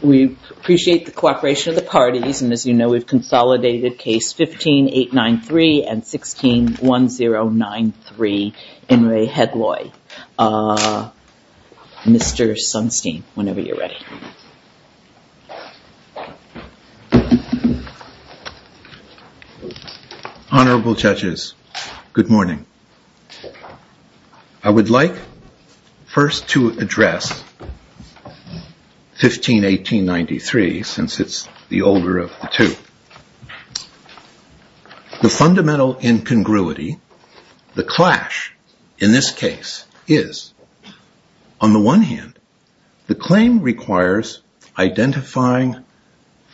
We appreciate the cooperation of the parties and as you know we've consolidated case 15-893 and 16-1093 in Re Hedloy. Mr. Sunstein whenever you're Honorable judges, good morning. I would like first to address 15-1893 since it's the older of the two. The fundamental incongruity, the clash in this case is on the one hand the claim requires identifying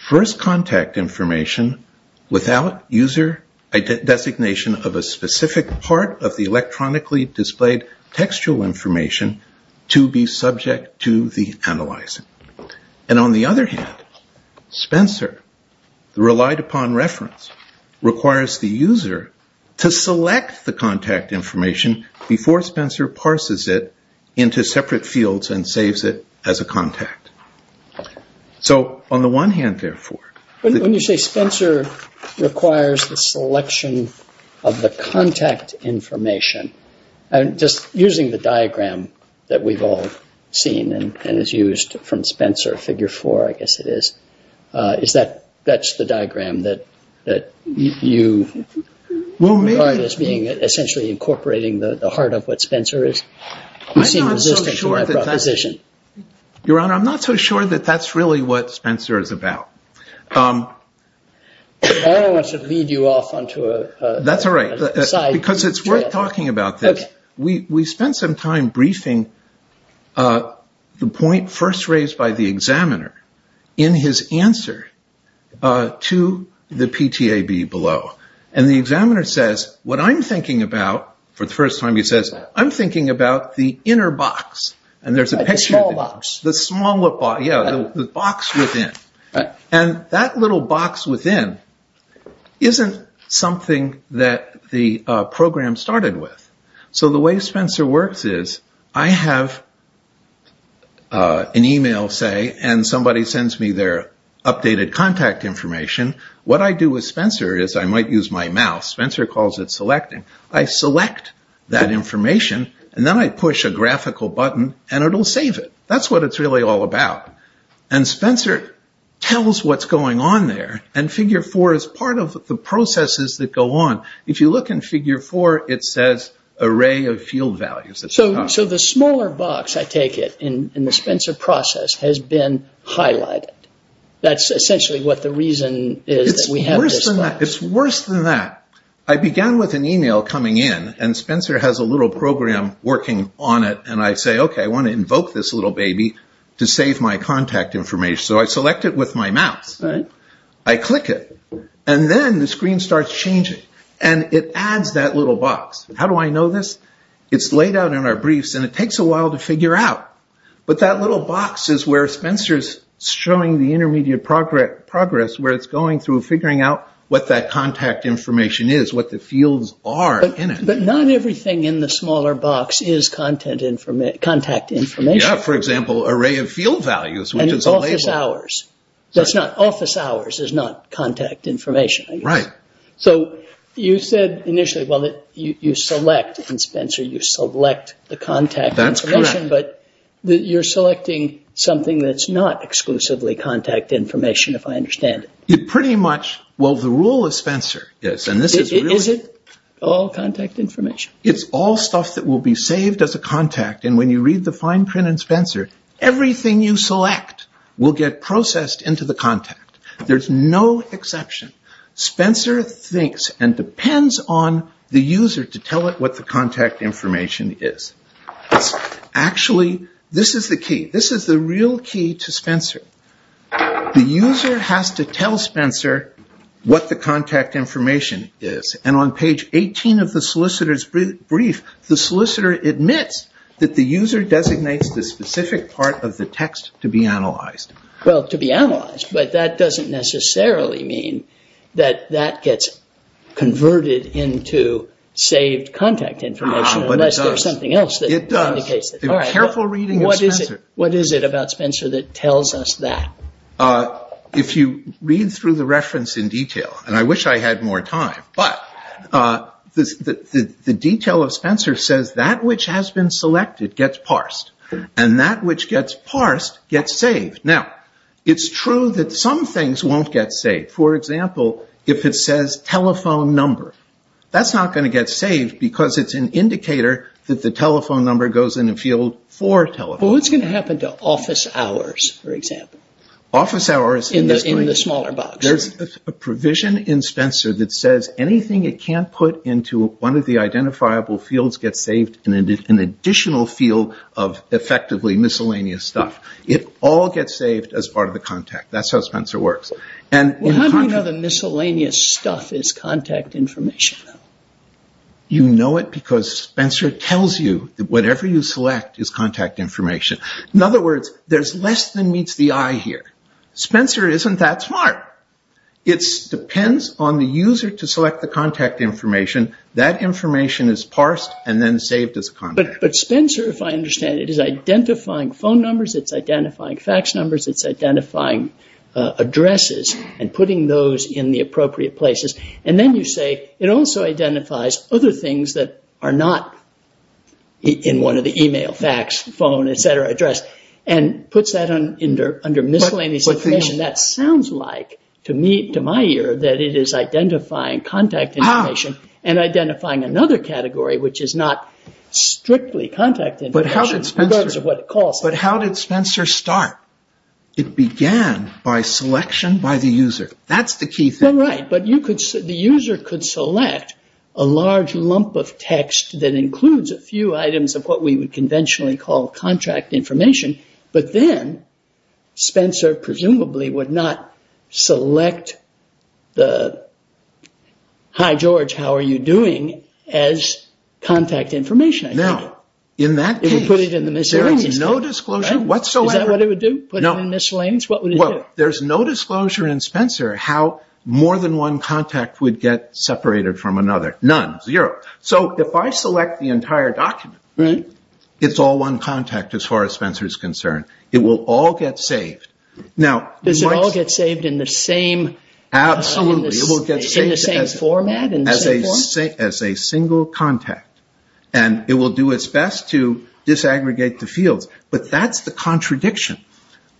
first contact information without user designation of a specific part of the electronically displayed textual information to be subject to the analyzing. And on the other hand, Spencer relied upon reference requires the user to select the fields and saves it as a contact. So on the one hand therefore. When you say Spencer requires the selection of the contact information, just using the diagram that we've all seen and has used from Spencer figure four I guess it is, is that that's the diagram that you regard as being essentially incorporating the heart of what Your Honor, I'm not so sure that that's really what Spencer is about. I don't want to lead you off on to a... That's all right because it's worth talking about this. We spent some time briefing the point first raised by the examiner in his answer to the PTAB below and the examiner says what I'm thinking about the inner box and there's a picture of the box within. And that little box within isn't something that the program started with. So the way Spencer works is I have an email say and somebody sends me their updated contact information. What I do with Spencer is I might use my mouse. Spencer calls it selecting. I select that information and then I push a graphical button and it'll save it. That's what it's really all about. And Spencer tells what's going on there and figure four is part of the processes that go on. If you look in figure four it says array of field values. So the smaller box I take it in the Spencer process has been highlighted. That's essentially what the reason is. It's worse than that. I began with an email coming in and Spencer has a little program working on it and I say okay I want to invoke this little baby to save my contact information. So I select it with my mouse. I click it and then the screen starts changing and it adds that little box. How do I know this? It's laid out in our briefs and it takes a while to figure out. But that little box is where Spencer's showing the intermediate progress where it's going through figuring out what that contact information is, what the fields are in it. But not everything in the smaller box is contact information. Yeah, for example array of field values which is a label. And it's office hours. Office hours is not contact information. Right. So you said initially you select and Spencer you select the contact information. That's correct. You're selecting something that's not exclusively contact information if I understand it. It pretty much, well the rule of Spencer is. Is it all contact information? It's all stuff that will be saved as a contact and when you read the fine print in Spencer everything you select will get processed into the contact. There's no exception. Spencer thinks and depends on the user to tell it what the contact information is. Actually this is the key. This is the real key to Spencer. The user has to tell Spencer what the contact information is and on page 18 of the solicitor's brief the solicitor admits that the user designates the specific part of the text to be analyzed. Well to be analyzed but that doesn't necessarily mean that that gets converted into saved contact information unless there's something else that indicates it. It does. A careful reading of Spencer. What is it about Spencer that tells us that? If you read through the reference in detail and I wish I had more time but the detail of Spencer says that which has been selected gets parsed and that which gets parsed gets saved. Now it's true that some things won't get saved. For example, if it says telephone number, that's not going to get saved because it's an indicator that the telephone number goes in a field for telephone. What's going to happen to office hours for example? Office hours in the smaller box. There's a provision in Spencer that says anything it can't put into one of the identifiable fields gets saved in an additional field of effectively miscellaneous stuff. It all gets saved as part of the contact. That's how Spencer works. How do you know the miscellaneous stuff is contact information? You know it because Spencer tells you that whatever you select is contact information. In other words, there's less than meets the eye here. Spencer isn't that smart. It depends on the user to select the contact information. That information is parsed and then saved as contact. But Spencer, if I understand it, is identifying phone numbers, it's identifying fax numbers, it's identifying addresses and putting those in the appropriate places. Then you say, it also identifies other things that are not in one of the email, fax, phone, etc. address and puts that under miscellaneous information. That sounds like to my ear that it is identifying contact information and identifying another category which is not strictly contact information regardless of what it calls. How did Spencer start? It began by selection by the user. That's the key thing. Right. The user could select a large lump of text that includes a few items of what we would conventionally call contract information. But then Spencer presumably would not select the, hi George, how are you doing, as contact information. In that case, there is no disclosure whatsoever. Is that what it would do? Put it in miscellaneous? What would it do? There's no disclosure in Spencer how more than one contact would get separated from another. None. Zero. So if I select the entire document, it's all one contact as far as Spencer is concerned. It will all get saved. Does it all get saved in the same format? As a single contact. It will do its best to disaggregate the fields. But that's the contradiction.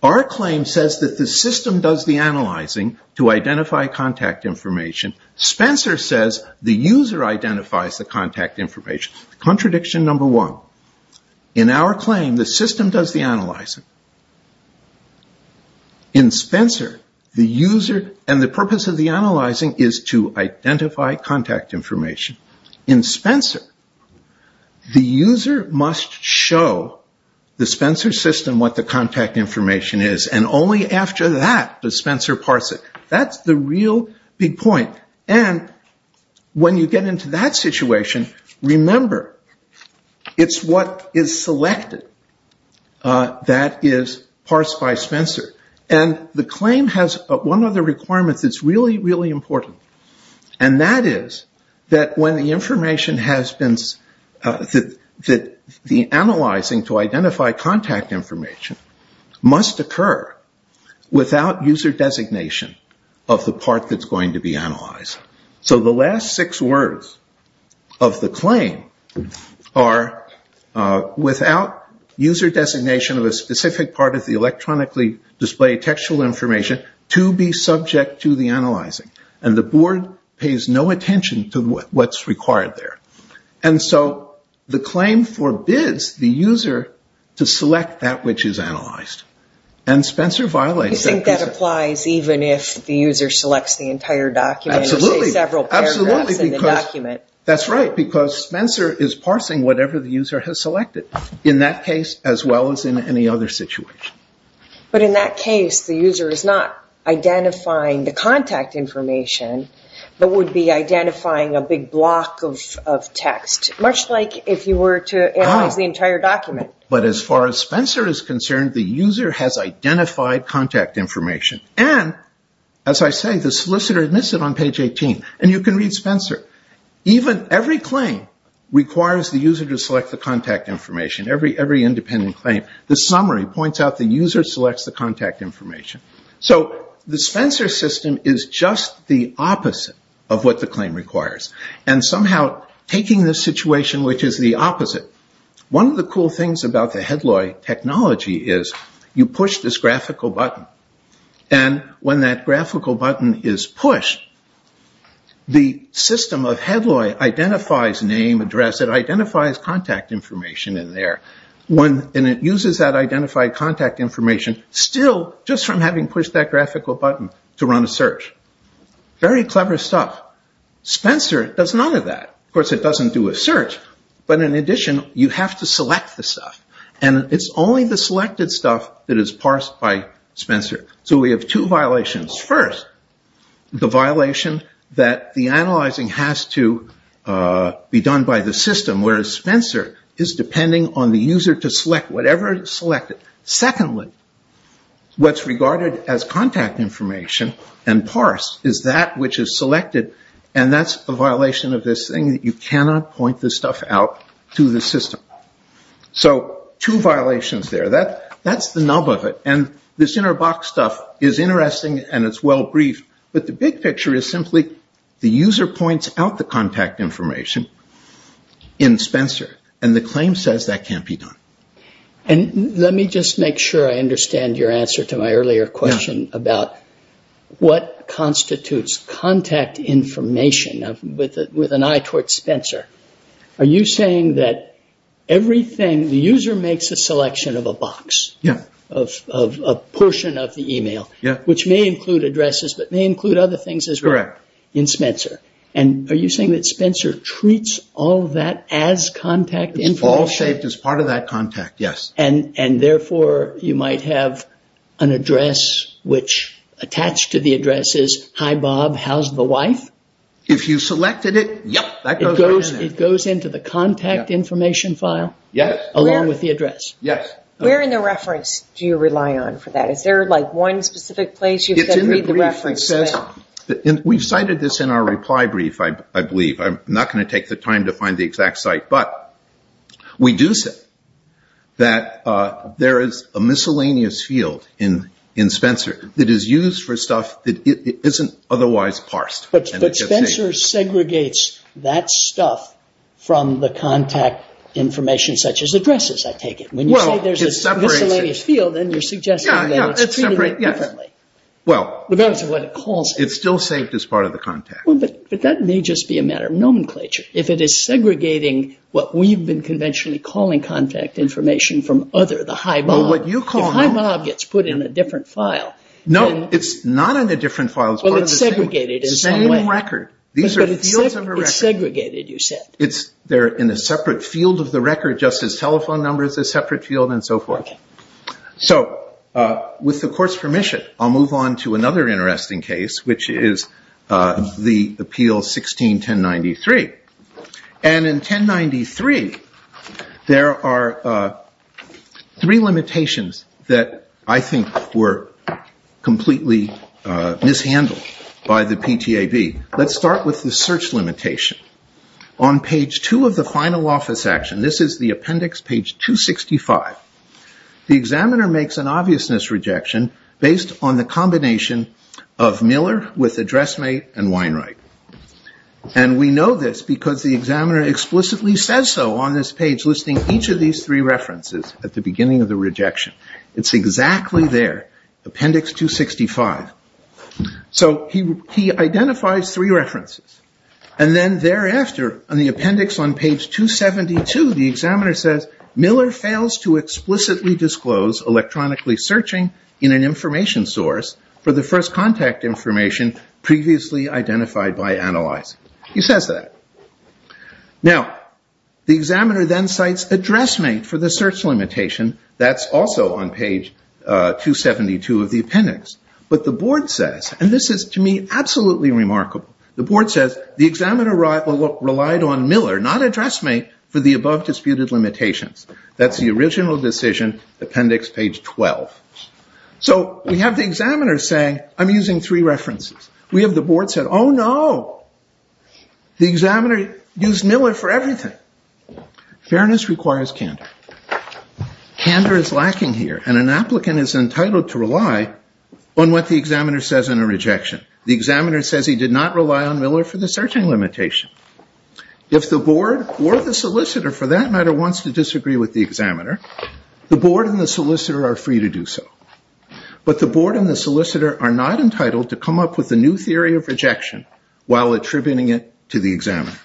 Our claim says that the system does the analyzing to identify contact information. Spencer says the user identifies the contact information. Contradiction number one. In our claim, the system does the analyzing. In Spencer, the user and the purpose of the claim is to identify contact information. In Spencer, the user must show the Spencer system what the contact information is and only after that does Spencer parse it. That's the real big point. When you get into that situation, remember, it's what is selected that is parsed by Spencer. The claim has one of the requirements that's really, really important. That is that when the information has been, that the analyzing to identify contact information must occur without user designation of the part that's going to be analyzed. So the last six words of the claim are without user designation of a specific part of the document. The claim forbids the user to display textual information to be subject to the analyzing. The board pays no attention to what's required there. So the claim forbids the user to select that which is analyzed. Spencer violates that. Do you think that applies even if the user selects the entire document? Absolutely. That's right. Because Spencer is parsing whatever the user has selected in that case as well as in any other situation. But in that case, the user is not identifying the contact information, but would be identifying a big block of text, much like if you were to analyze the entire document. But as far as Spencer is concerned, the user has identified contact information. And as I say, the solicitor admits it on page 18. And you can read Spencer. Every claim requires the user to select the contact information, every independent claim. The summary points out the user selects the contact information. So the Spencer system is just the opposite of what the claim requires. And somehow taking this situation, which is the opposite, one of the cool things about the HeadLoy technology is you push this graphical button. And when that graphical button is pushed, the system of HeadLoy identifies name, address, it identifies contact information in there. And it uses that identified contact information still just from having pushed that graphical button to run a search. Very clever stuff. Spencer does none of that. Of course, it doesn't do a search. But in addition, you have to select the stuff. And it's only the selected stuff that is parsed by Spencer. So we have two violations. First, the violation that the analyzing has to be done by the system, whereas Spencer is depending on the user to select whatever is selected. Secondly, what's regarded as contact information and parsed is that which is selected. And that's a violation of this thing that you cannot point this stuff out to the system. So two violations there. That's the nub of it. And this inner box stuff is interesting and it's well-briefed. But the big picture is simply the user points out the contact information in Spencer. And the claim says that can't be done. And let me just make sure I understand your answer to my earlier question about what constitutes contact information with an eye towards Spencer. Are you saying that the user makes a selection of a box, of a portion of the email, which may include addresses but may include other things as well in Spencer. And are you saying that Spencer treats all that as contact information? It's all shaped as part of that contact, yes. And therefore you might have an address which attached to the address is, hi Bob, how's the wife? If you selected it, yep, that goes right in there. It goes into the contact information file? Yes. Along with the address? Yes. Where in the reference do you rely on for that? Is there like one specific place you can read the reference to? We've cited this in our reply brief, I believe. I'm not going to take the time to find the exact site. But we do say that there is a miscellaneous field in Spencer that is used for stuff that isn't otherwise parsed. But Spencer segregates that stuff from the contact information such as addresses, I take it. When you say there's a miscellaneous field, then you're suggesting that it's treated differently. Well, it's still saved as part of the contact. But that may just be a matter of nomenclature. If it is segregating what we've been conventionally calling contact information from other, the hi Bob. Well, what you call hi Bob gets put in a different file. No, it's not in a different file. Well, it's segregated in some way. It's the same record. These are fields of a record. But it's segregated, you said. They're in a separate field of the record just as telephone numbers, a separate field and so forth. So with the court's permission, I'll move on to another interesting case, which is the appeal 16-1093. And in 1093, there are three limitations that I think were completely mishandled by the PTAB. Let's start with the search limitation. On page two of the final office action, this is the appendix, page 265, the examiner makes an obviousness rejection based on the combination of Miller with a dressmate and Weinreich. And we know this because the examiner explicitly says so on this page, listing each of these three references at the beginning of the rejection. It's exactly there, appendix 265. So he identifies three references. And then thereafter, on the appendix on page 272, the examiner says, Miller fails to explicitly disclose electronically searching in an information source for the first contact information previously identified by analyzing. He says that. Now, the examiner then cites a dressmate for the search limitation. That's also on page 272 of the appendix. But the board says, and this is to me absolutely remarkable, the board says, the examiner relied on Miller, not a dressmate, for the above disputed limitations. That's the original decision, appendix page 12. So we have the examiner saying, I'm using three references. We have the board say, oh, no. The examiner used Miller for everything. Fairness requires candor. Candor is lacking here. And an applicant is entitled to rely on what the examiner says in a rejection. The examiner says he did not rely on Miller for the searching limitation. If the board or the solicitor, for that matter, wants to disagree with the examiner, the board and the solicitor are free to do so. But the board and the solicitor are not entitled to come up with a new theory of rejection while attributing it to the examiner.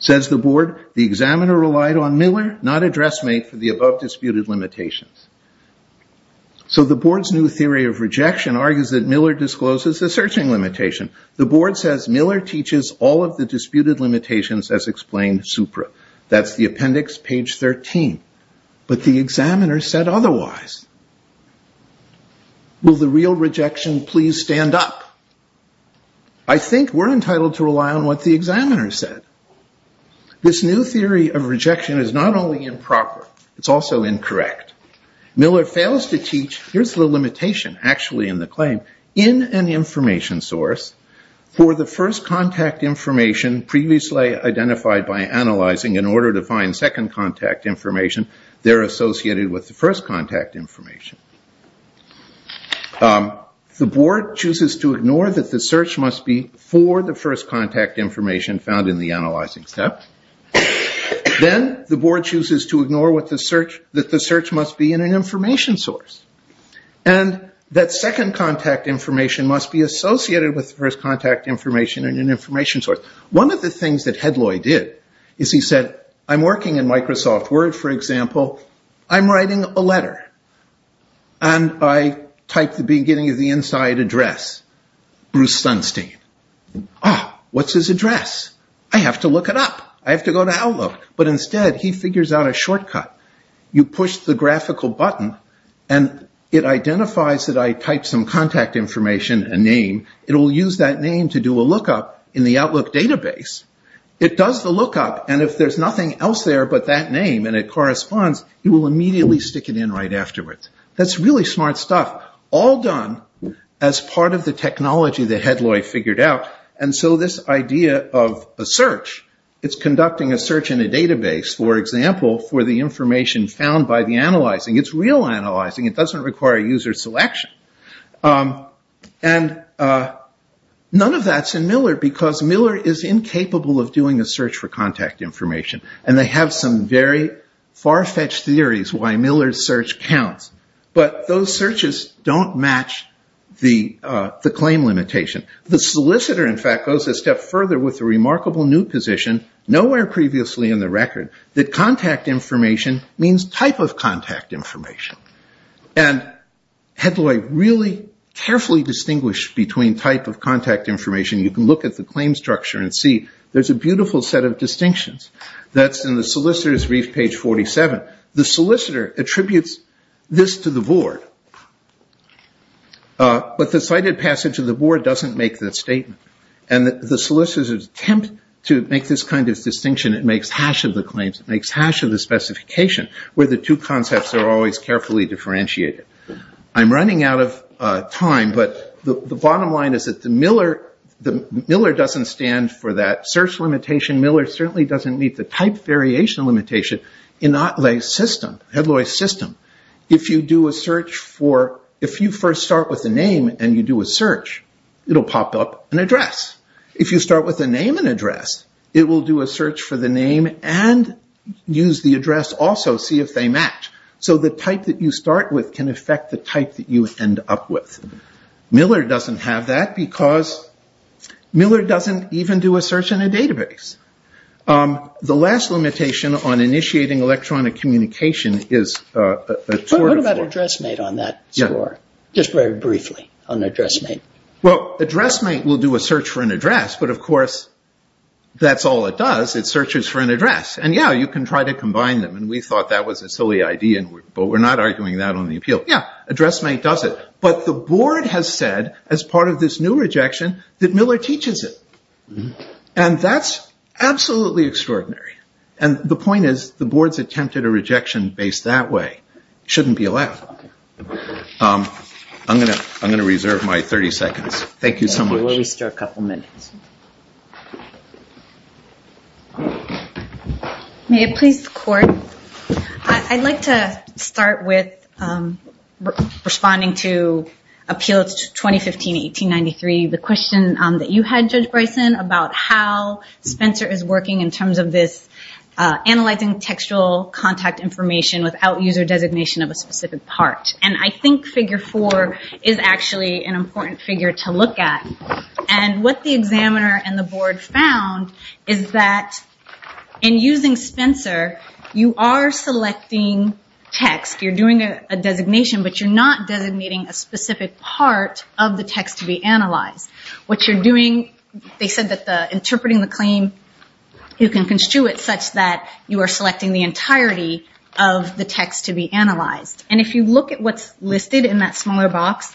Says the board, the examiner relied on Miller, not a dressmate, for the above disputed limitations. So the board's new theory of rejection argues that Miller discloses the searching limitation. The board says Miller teaches all of the disputed limitations as explained supra. That's the appendix, page 13. But the examiner said otherwise. Will the real rejection please stand up? I think we're entitled to rely on what the examiner said. This new theory of rejection is not only improper. It's also incorrect. Miller fails to teach. Here's the limitation, actually, in the claim. In an information source, for the first contact information previously identified by analyzing in order to find second contact information, they're associated with the first contact information. The board chooses to ignore that the search must be for the first contact information found in the analyzing step. Then the board chooses to ignore that the search must be in an information source. And that second contact information must be associated with the first contact information in an information source. One of the things that Hedloy did is he said, I'm working in Microsoft Word, for example. I'm writing a letter. And I type the beginning of the inside address, Bruce Sunstein. What's his address? I have to look it up. I have to go to Outlook. But instead, he figures out a shortcut. You push the graphical button, and it identifies that I typed some contact information, a name. It will use that name to do a lookup in the Outlook database. It does the lookup, and if there's nothing else there but that name and it corresponds, it will immediately stick it in right afterwards. That's really smart stuff. All done as part of the technology that Hedloy figured out. And so this idea of a search, it's conducting a search in a database, for example, for the information found by the analyzing. It's real analyzing. It doesn't require user selection. And none of that's in Miller, because Miller is incapable of doing a search for contact information. And they have some very far-fetched theories why Miller's search counts. But those searches don't match the claim limitation. The solicitor, in fact, goes a step further with a remarkable new position, nowhere previously in the record, that contact information means type of contact information. And Hedloy really carefully distinguished between type of contact information. You can look at the claim structure and see there's a beautiful set of distinctions. That's in the solicitor's brief, page 47. The solicitor attributes this to the board, but the cited passage of the board doesn't make that statement. And the solicitor's attempt to make this kind of distinction, it makes hash of the claims. It makes hash of the specification, where the two concepts are always carefully differentiated. I'm running out of time, but the bottom line is that Miller doesn't stand for that search limitation. Miller certainly doesn't meet the type variation limitation in Hedloy's system. If you first start with a name and you do a search, it'll pop up an address. If you start with a name and address, it will do a search for the name and use the address also, see if they match. So the type that you start with can affect the type that you end up with. Miller doesn't have that because Miller doesn't even do a search in a database. The last limitation on initiating electronic communication is a... What about address mate on that score? Just very briefly on address mate. Well, address mate will do a search for an address, but of course that's all it does. It searches for an address. And yeah, you can try to combine them. And we thought that was a silly idea, but we're not arguing that on the appeal. Yeah, address mate does it. But the board has said, as part of this new rejection, that Miller teaches it. And that's absolutely extraordinary. And the point is, the board's attempted a rejection based that way. Shouldn't be allowed. I'm going to reserve my 30 seconds. Thank you so much. Thank you. We'll restart in a couple of minutes. May it please the court? I'd like to start with responding to appeals 2015-1893. The question that you had, Judge Bryson, about how Spencer is working in terms of this analyzing textual contact information without user designation of a specific part. And I think figure four is actually an important figure to look at. And what the examiner and the board found is that in using Spencer, you are selecting text. You're doing a designation, but you're not designating a specific part of the text to be analyzed. What you're doing, they said that interpreting the claim, you can construe it such that you are selecting the entirety of the text to be analyzed. And if you look at what's listed in that smaller box,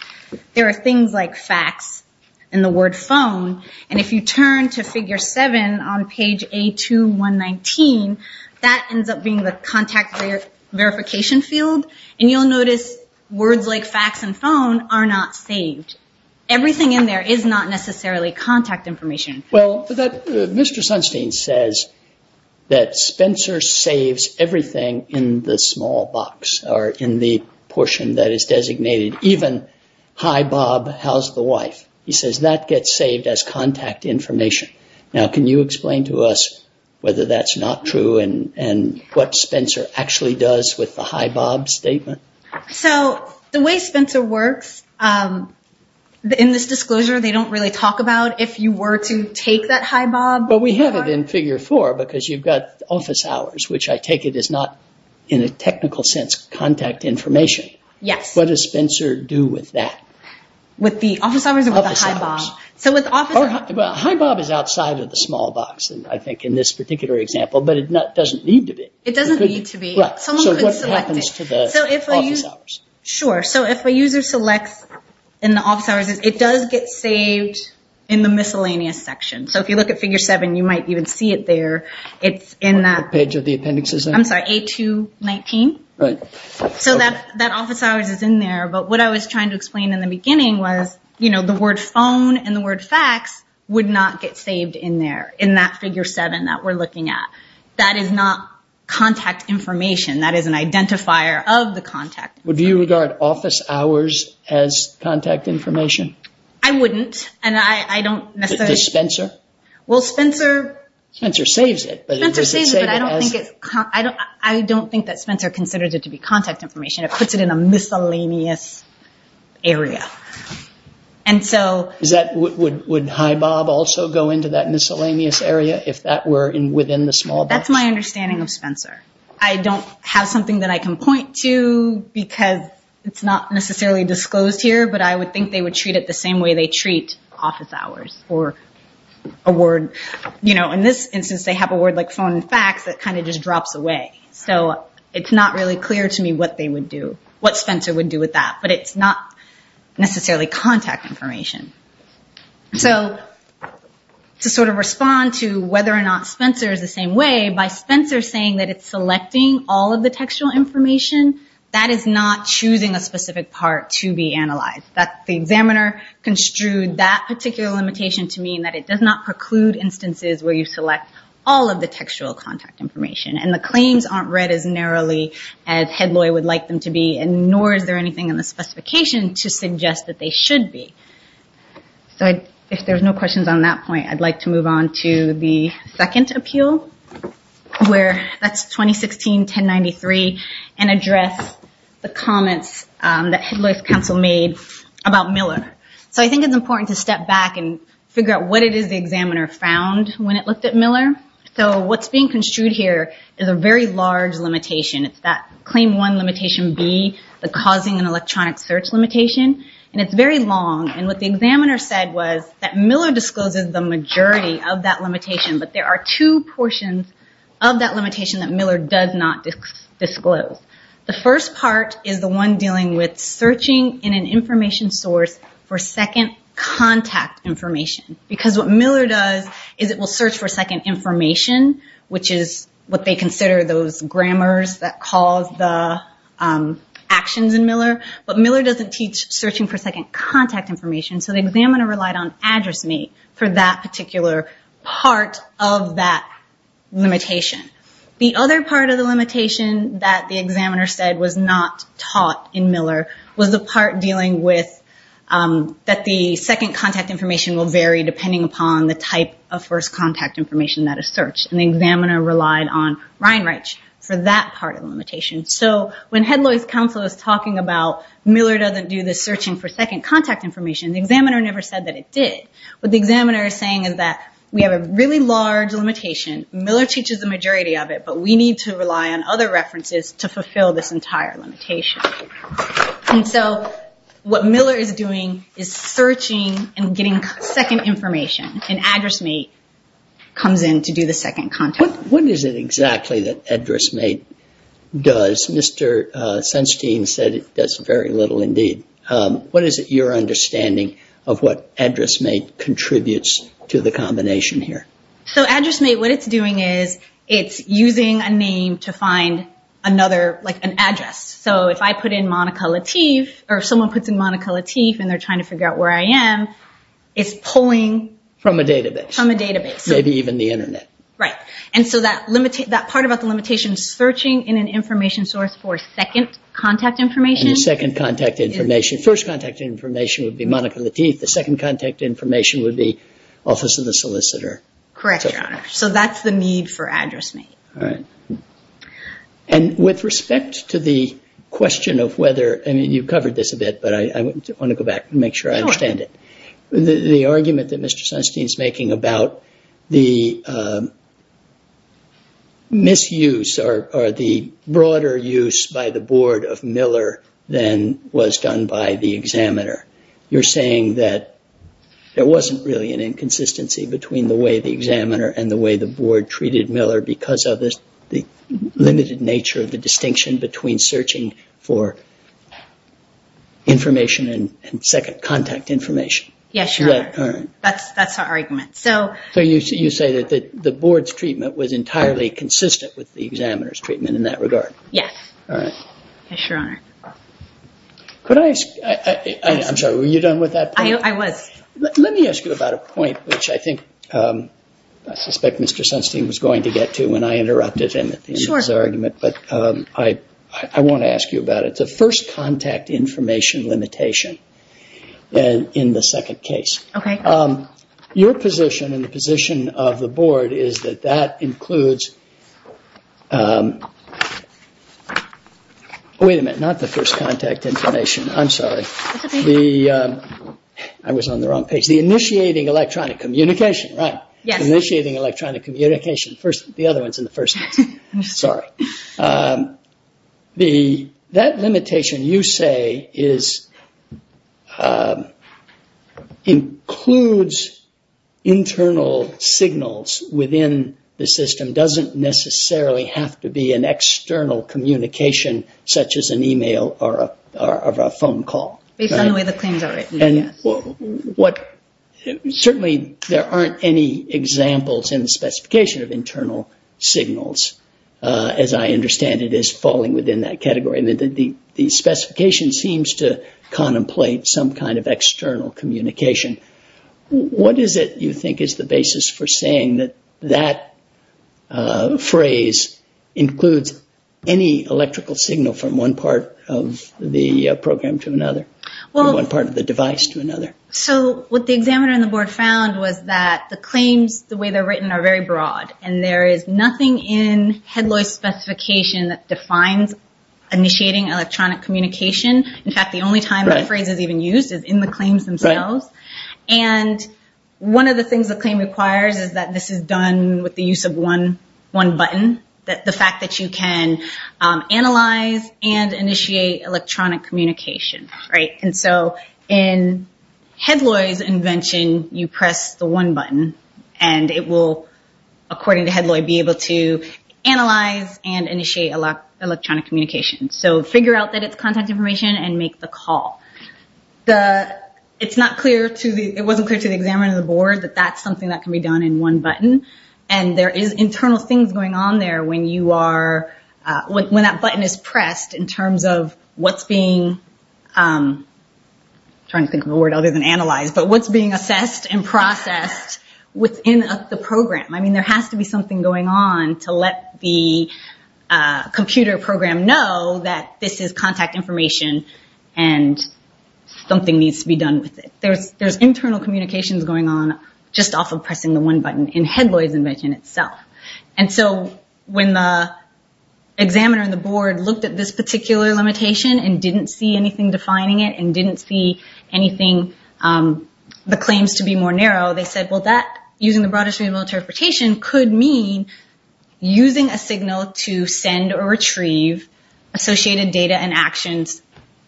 there are things like facts and the word phone. And if you turn to figure seven on page A2-119, that ends up being the contact verification field. And you'll notice words like facts and phone are not saved. Everything in there is not necessarily contact information. Well, Mr. Sunstein says that Spencer saves everything in the small box or in the portion that is designated. Even, hi, Bob, how's the wife? He says that gets saved as contact information. Now, can you explain to us whether that's not true and what Spencer actually does with the hi, Bob statement? So the way Spencer works, in this disclosure, they don't really talk about if you were to take that hi, Bob. But we have it in figure four because you've got office hours, which I take it is not in a technical sense contact information. Yes. What does Spencer do with that? With the office hours or with the hi, Bob? Well, hi, Bob is outside of the small box, I think, in this particular example. But it doesn't need to be. It doesn't need to be. Someone could select it. So what happens to the office hours? Sure. So if a user selects in the office hours, it does get saved in the miscellaneous section. So if you look at figure seven, you might even see it there. What page of the appendix is that? I'm sorry, A219. Right. So that office hours is in there. But what I was trying to explain in the beginning was the word phone and the word facts would not get saved in there in that figure seven that we're looking at. That is not contact information. That is an identifier of the contact. Would you regard office hours as contact information? I wouldn't. And I don't necessarily... Does Spencer? Well, Spencer... Spencer saves it. Spencer saves it, but I don't think that Spencer considers it to be contact information. It puts it in a miscellaneous area. And so... Would Hi Bob also go into that miscellaneous area if that were within the small box? That's my understanding of Spencer. I don't have something that I can point to because it's not necessarily disclosed here, but I would think they would treat it the same way they treat office hours or a word. In this instance, they have a word like phone and facts that kind of just drops away. So it's not really clear to me what Spencer would do with that. But it's not necessarily contact information. So to sort of respond to whether or not Spencer is the same way, by Spencer saying that it's selecting all of the textual information, that is not choosing a specific part to be analyzed. The examiner construed that particular limitation to mean that it does not preclude instances where you select all of the textual contact information. And the claims aren't read as narrowly as Hedloy would like them to be, and nor is there anything in the specification to suggest that they should be. So if there's no questions on that point, I'd like to move on to the second appeal, where that's 2016-1093, and address the comments that Hedloy's counsel made about Miller. So I think it's important to step back and figure out what it is the examiner found when it looked at Miller. So what's being construed here is a very large limitation. It's that claim one limitation B, the causing an electronic search limitation. And it's very long. And what the examiner said was that Miller discloses the majority of that limitation. But there are two portions of that limitation that Miller does not disclose. The first part is the one dealing with searching in an information source for second contact information. Because what Miller does is it will search for second information, which is what they consider those grammars that cause the actions in Miller. But Miller doesn't teach searching for second contact information, so the examiner relied on AddressMe for that particular part of that limitation. The other part of the limitation that the examiner said was not taught in Miller was the part dealing with that the second contact information will vary depending upon the type of first contact information that is searched. And the examiner relied on Ryan Reich for that part of the limitation. So when Hedloy's counsel is talking about Miller doesn't do the searching for second contact information, the examiner never said that it did. What the examiner is saying is that we have a really large limitation. Miller teaches the majority of it, but we need to rely on other references to fulfill this entire limitation. And so what Miller is doing is searching and getting second information. And AddressMe comes in to do the second contact. What is it exactly that AddressMe does? Mr. Senstein said it does very little indeed. What is it your understanding of what AddressMe contributes to the combination here? So AddressMe, what it's doing is it's using a name to find another, like an address. So if I put in Monica Lateef, or if someone puts in Monica Lateef and they're trying to figure out where I am, it's pulling from a database. From a database. Maybe even the internet. Right. And so that part about the limitation is searching in an information source for second contact information. First contact information would be Monica Lateef. The second contact information would be Office of the Solicitor. Correct, Your Honor. So that's the need for AddressMe. All right. And with respect to the question of whether, I mean, you've covered this a bit, but I want to go back and make sure I understand it. Go on. The argument that Mr. Senstein is making about the misuse or the broader use by the Board of Miller than was done by the examiner, you're saying that there wasn't really an inconsistency between the way the examiner and the way the Board treated Miller because of the limited nature of the distinction between searching for information and second contact information. Yes, Your Honor. All right. That's our argument. So you say that the Board's treatment was entirely consistent with the examiner's treatment in that regard. Yes. All right. Yes, Your Honor. I'm sorry, were you done with that point? I was. Let me ask you about a point which I think I suspect Mr. Senstein was going to get to when I interrupted him at the end of his argument. Sure. I want to ask you about it. The first contact information limitation in the second case. Okay. Your position and the position of the Board is that that includes, wait a minute, not the first contact information. I'm sorry. That's okay. I was on the wrong page. The initiating electronic communication, right? Yes. Initiating electronic communication. The other one is in the first case. I'm sorry. That limitation you say includes internal signals within the system. It doesn't necessarily have to be an external communication such as an e-mail or a phone call. Based on the way the claims are written, yes. Certainly there aren't any examples in the specification of internal signals. As I understand it, it is falling within that category. The specification seems to contemplate some kind of external communication. What is it you think is the basis for saying that that phrase includes any electrical signal from one part of the program to another? From one part of the device to another? What the examiner and the Board found was that the claims, the way they're written, are very broad. There is nothing in Hedloy's specification that defines initiating electronic communication. In fact, the only time that phrase is even used is in the claims themselves. One of the things the claim requires is that this is done with the use of one button. The fact that you can analyze and initiate electronic communication. In Hedloy's invention, you press the one button and it will, according to Hedloy, be able to analyze and initiate electronic communication. Figure out that it's contact information and make the call. It wasn't clear to the examiner and the Board that that's something that can be done in one button. There is internal things going on there when that button is pressed in terms of what's being assessed and processed within the program. There has to be something going on to let the computer program know that this is contact information and something needs to be done with it. There's internal communications going on just off of pressing the one button in Hedloy's invention itself. When the examiner and the Board looked at this particular limitation and didn't see anything defining it and didn't see the claims to be more narrow, they said that using the broader stream of interpretation could mean using a signal to send or retrieve associated data and actions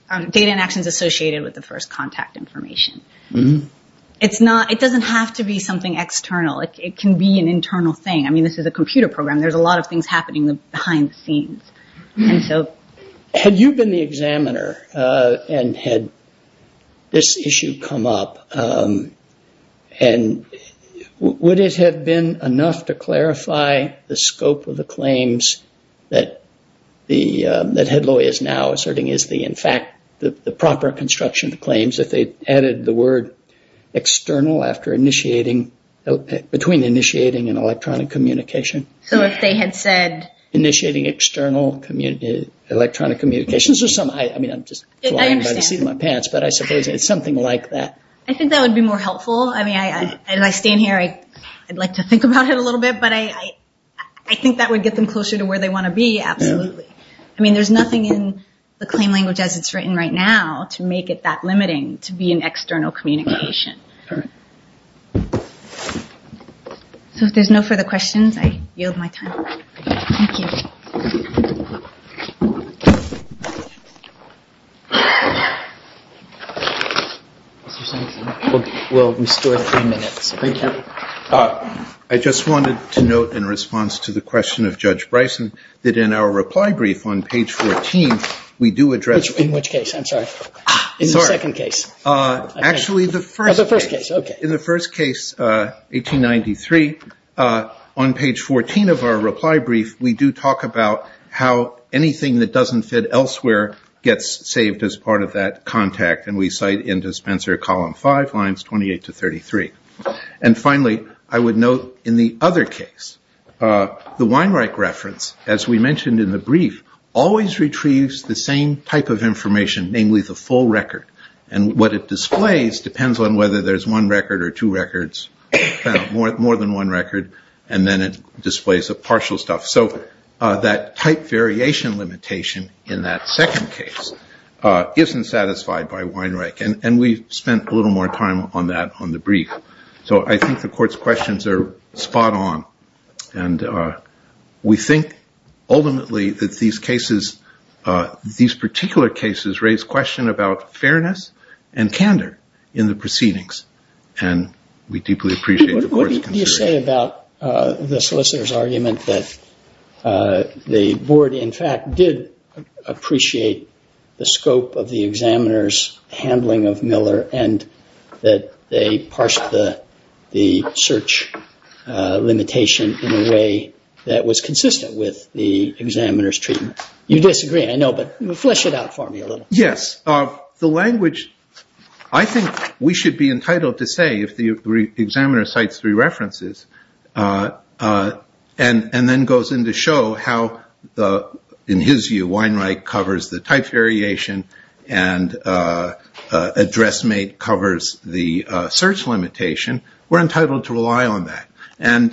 associated with the first contact information. It doesn't have to be something external. It can be an internal thing. This is a computer program. There's a lot of things happening behind the scenes. Had you been the examiner and had this issue come up, would it have been enough to clarify the scope of the claims that Hedloy is now asserting is, in fact, the proper construction of the claims if they added the word external between initiating and electronic communication? So if they had said... Initiating external electronic communications or something. I'm just flying by the seat of my pants, but I suppose it's something like that. I think that would be more helpful. As I stand here, I'd like to think about it a little bit, but I think that would get them closer to where they want to be, absolutely. There's nothing in the claim language as it's written right now to make it that limiting to be an external communication. So if there's no further questions, I yield my time. Thank you. We'll restore three minutes. Thank you. I just wanted to note in response to the question of Judge Bryson that in our reply brief on page 14, we do address... In which case? I'm sorry. In the second case. Actually, the first case. Oh, the first case. Okay. In the first case, 1893, on page 14 of our reply brief, we do talk about how anything that doesn't fit elsewhere gets saved as part of that contact, and we cite in Dispenser Column 5, lines 28 to 33. And finally, I would note in the other case, the Weinreich reference, as we mentioned in the brief, always retrieves the same type of information, namely the full record. And what it displays depends on whether there's one record or two records, more than one record, and then it displays the partial stuff. So that type variation limitation in that second case isn't satisfied by Weinreich, and we spent a little more time on that on the brief. So I think the Court's questions are spot on, and we think ultimately that these cases, these particular cases, raise question about fairness and candor in the proceedings, and we deeply appreciate the Court's consideration. What do you say about the solicitor's argument that the Board, in fact, did appreciate the scope of the examiner's handling of Miller, and that they parsed the search limitation in a way that was consistent with the examiner's treatment? You disagree, I know, but flesh it out for me a little. Yes. The language, I think we should be entitled to say, if the examiner cites three references, and then goes in to show how, in his view, Weinreich covers the type variation, and address mate covers the search limitation, we're entitled to rely on that. And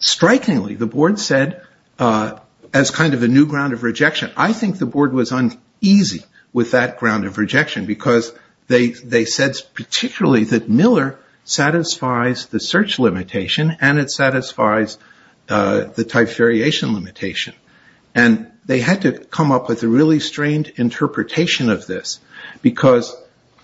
strikingly, the Board said, as kind of a new ground of rejection, I think the Board was uneasy with that ground of rejection, because they said particularly that Miller satisfies the search limitation, and it satisfies the type variation limitation. And they had to come up with a really strained interpretation of this, because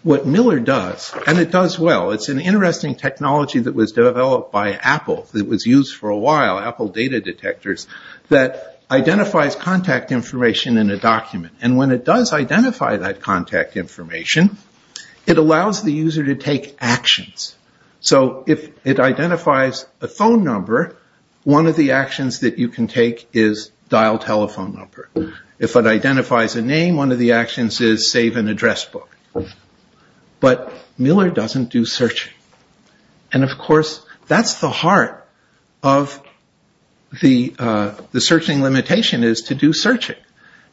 what Miller does, and it does well, it's an interesting technology that was developed by Apple, that was used for a while, Apple data detectors, that identifies contact information in a document. And when it does identify that contact information, it allows the user to take actions. So if it identifies a phone number, one of the actions that you can take is dial telephone number. If it identifies a name, one of the actions is save an address book. But Miller doesn't do searching. And, of course, that's the heart of the searching limitation, is to do searching.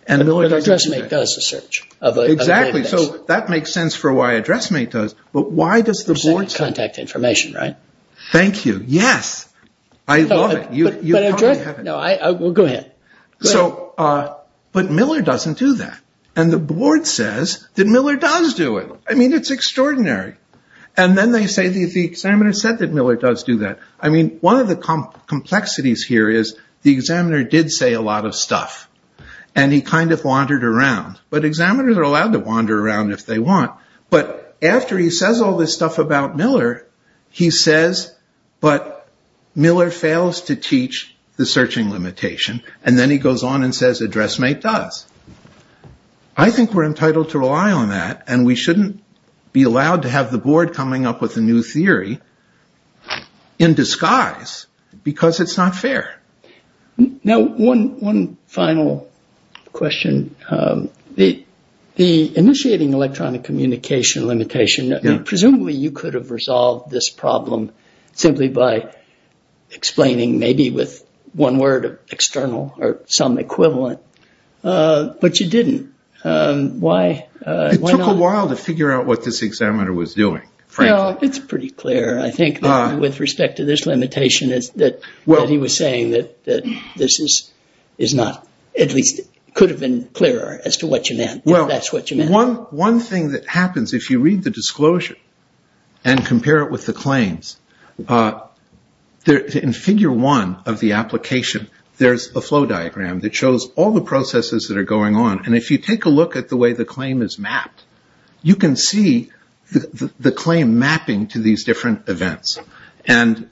But address mate does the search. Exactly. So that makes sense for why address mate does. But why does the Board say... Contact information, right? Thank you. Yes. I love it. No, go ahead. But Miller doesn't do that. And the Board says that Miller does do it. I mean, it's extraordinary. And then they say the examiner said that Miller does do that. I mean, one of the complexities here is the examiner did say a lot of stuff. And he kind of wandered around. But examiners are allowed to wander around if they want. But after he says all this stuff about Miller, he says, but Miller fails to teach the searching limitation. And then he goes on and says address mate does. I think we're entitled to rely on that. And we shouldn't be allowed to have the Board coming up with a new theory in disguise because it's not fair. Now, one final question. The initiating electronic communication limitation, presumably you could have resolved this problem simply by explaining maybe with one word of external or some equivalent. But you didn't. Why not? It took a while to figure out what this examiner was doing, frankly. Well, it's pretty clear, I think, with respect to this limitation that he was saying that this is not, at least could have been clearer as to what you meant. Well, one thing that happens, if you read the disclosure and compare it with the claims, in figure one of the application, there's a flow diagram that shows all the processes that are going on. And if you take a look at the way the claim is mapped, you can see the claim mapping to these different events. And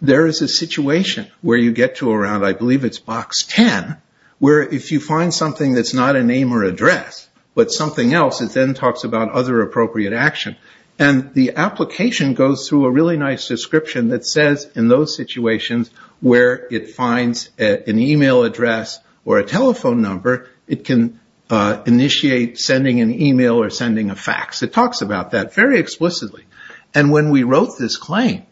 there is a situation where you get to around, I believe it's box 10, where if you find something that's not a name or address but something else, it then talks about other appropriate action. And the application goes through a really nice description that says in those situations where it finds an e-mail address or a telephone number, it can initiate sending an e-mail or sending a fax. It talks about that very explicitly. And when we wrote this claim,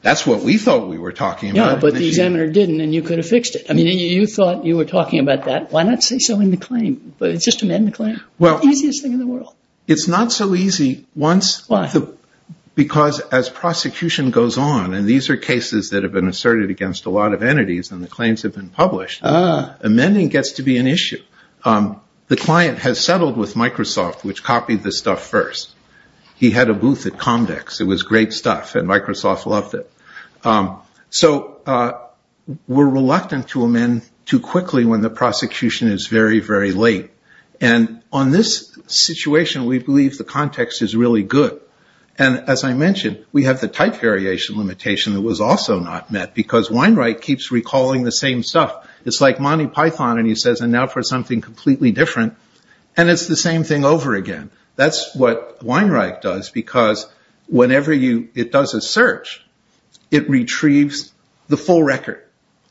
that's what we thought we were talking about. Yeah, but the examiner didn't, and you could have fixed it. I mean, you thought you were talking about that. Why not say so in the claim? It's just a medical claim. Easiest thing in the world. It's not so easy once because as prosecution goes on, and these are cases that have been asserted against a lot of entities and the claims have been published, amending gets to be an issue. The client has settled with Microsoft, which copied this stuff first. He had a booth at Comdex. It was great stuff, and Microsoft loved it. So we're reluctant to amend too quickly when the prosecution is very, very late. And on this situation, we believe the context is really good. And as I mentioned, we have the type variation limitation that was also not met because Wainwright keeps recalling the same stuff. It's like Monty Python, and he says, and now for something completely different, and it's the same thing over again. That's what Wainwright does because whenever it does a search, it retrieves the full record,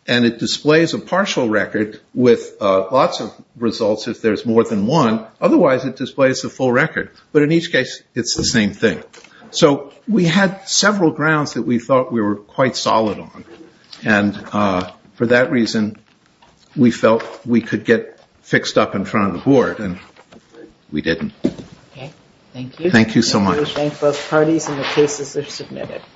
and it displays a partial record with lots of results if there's more than one. Otherwise, it displays the full record. But in each case, it's the same thing. So we had several grounds that we thought we were quite solid on, and for that reason, we felt we could get fixed up in front of the board, and we didn't. Thank you. Thank you so much. Thank both parties, and the cases are submitted.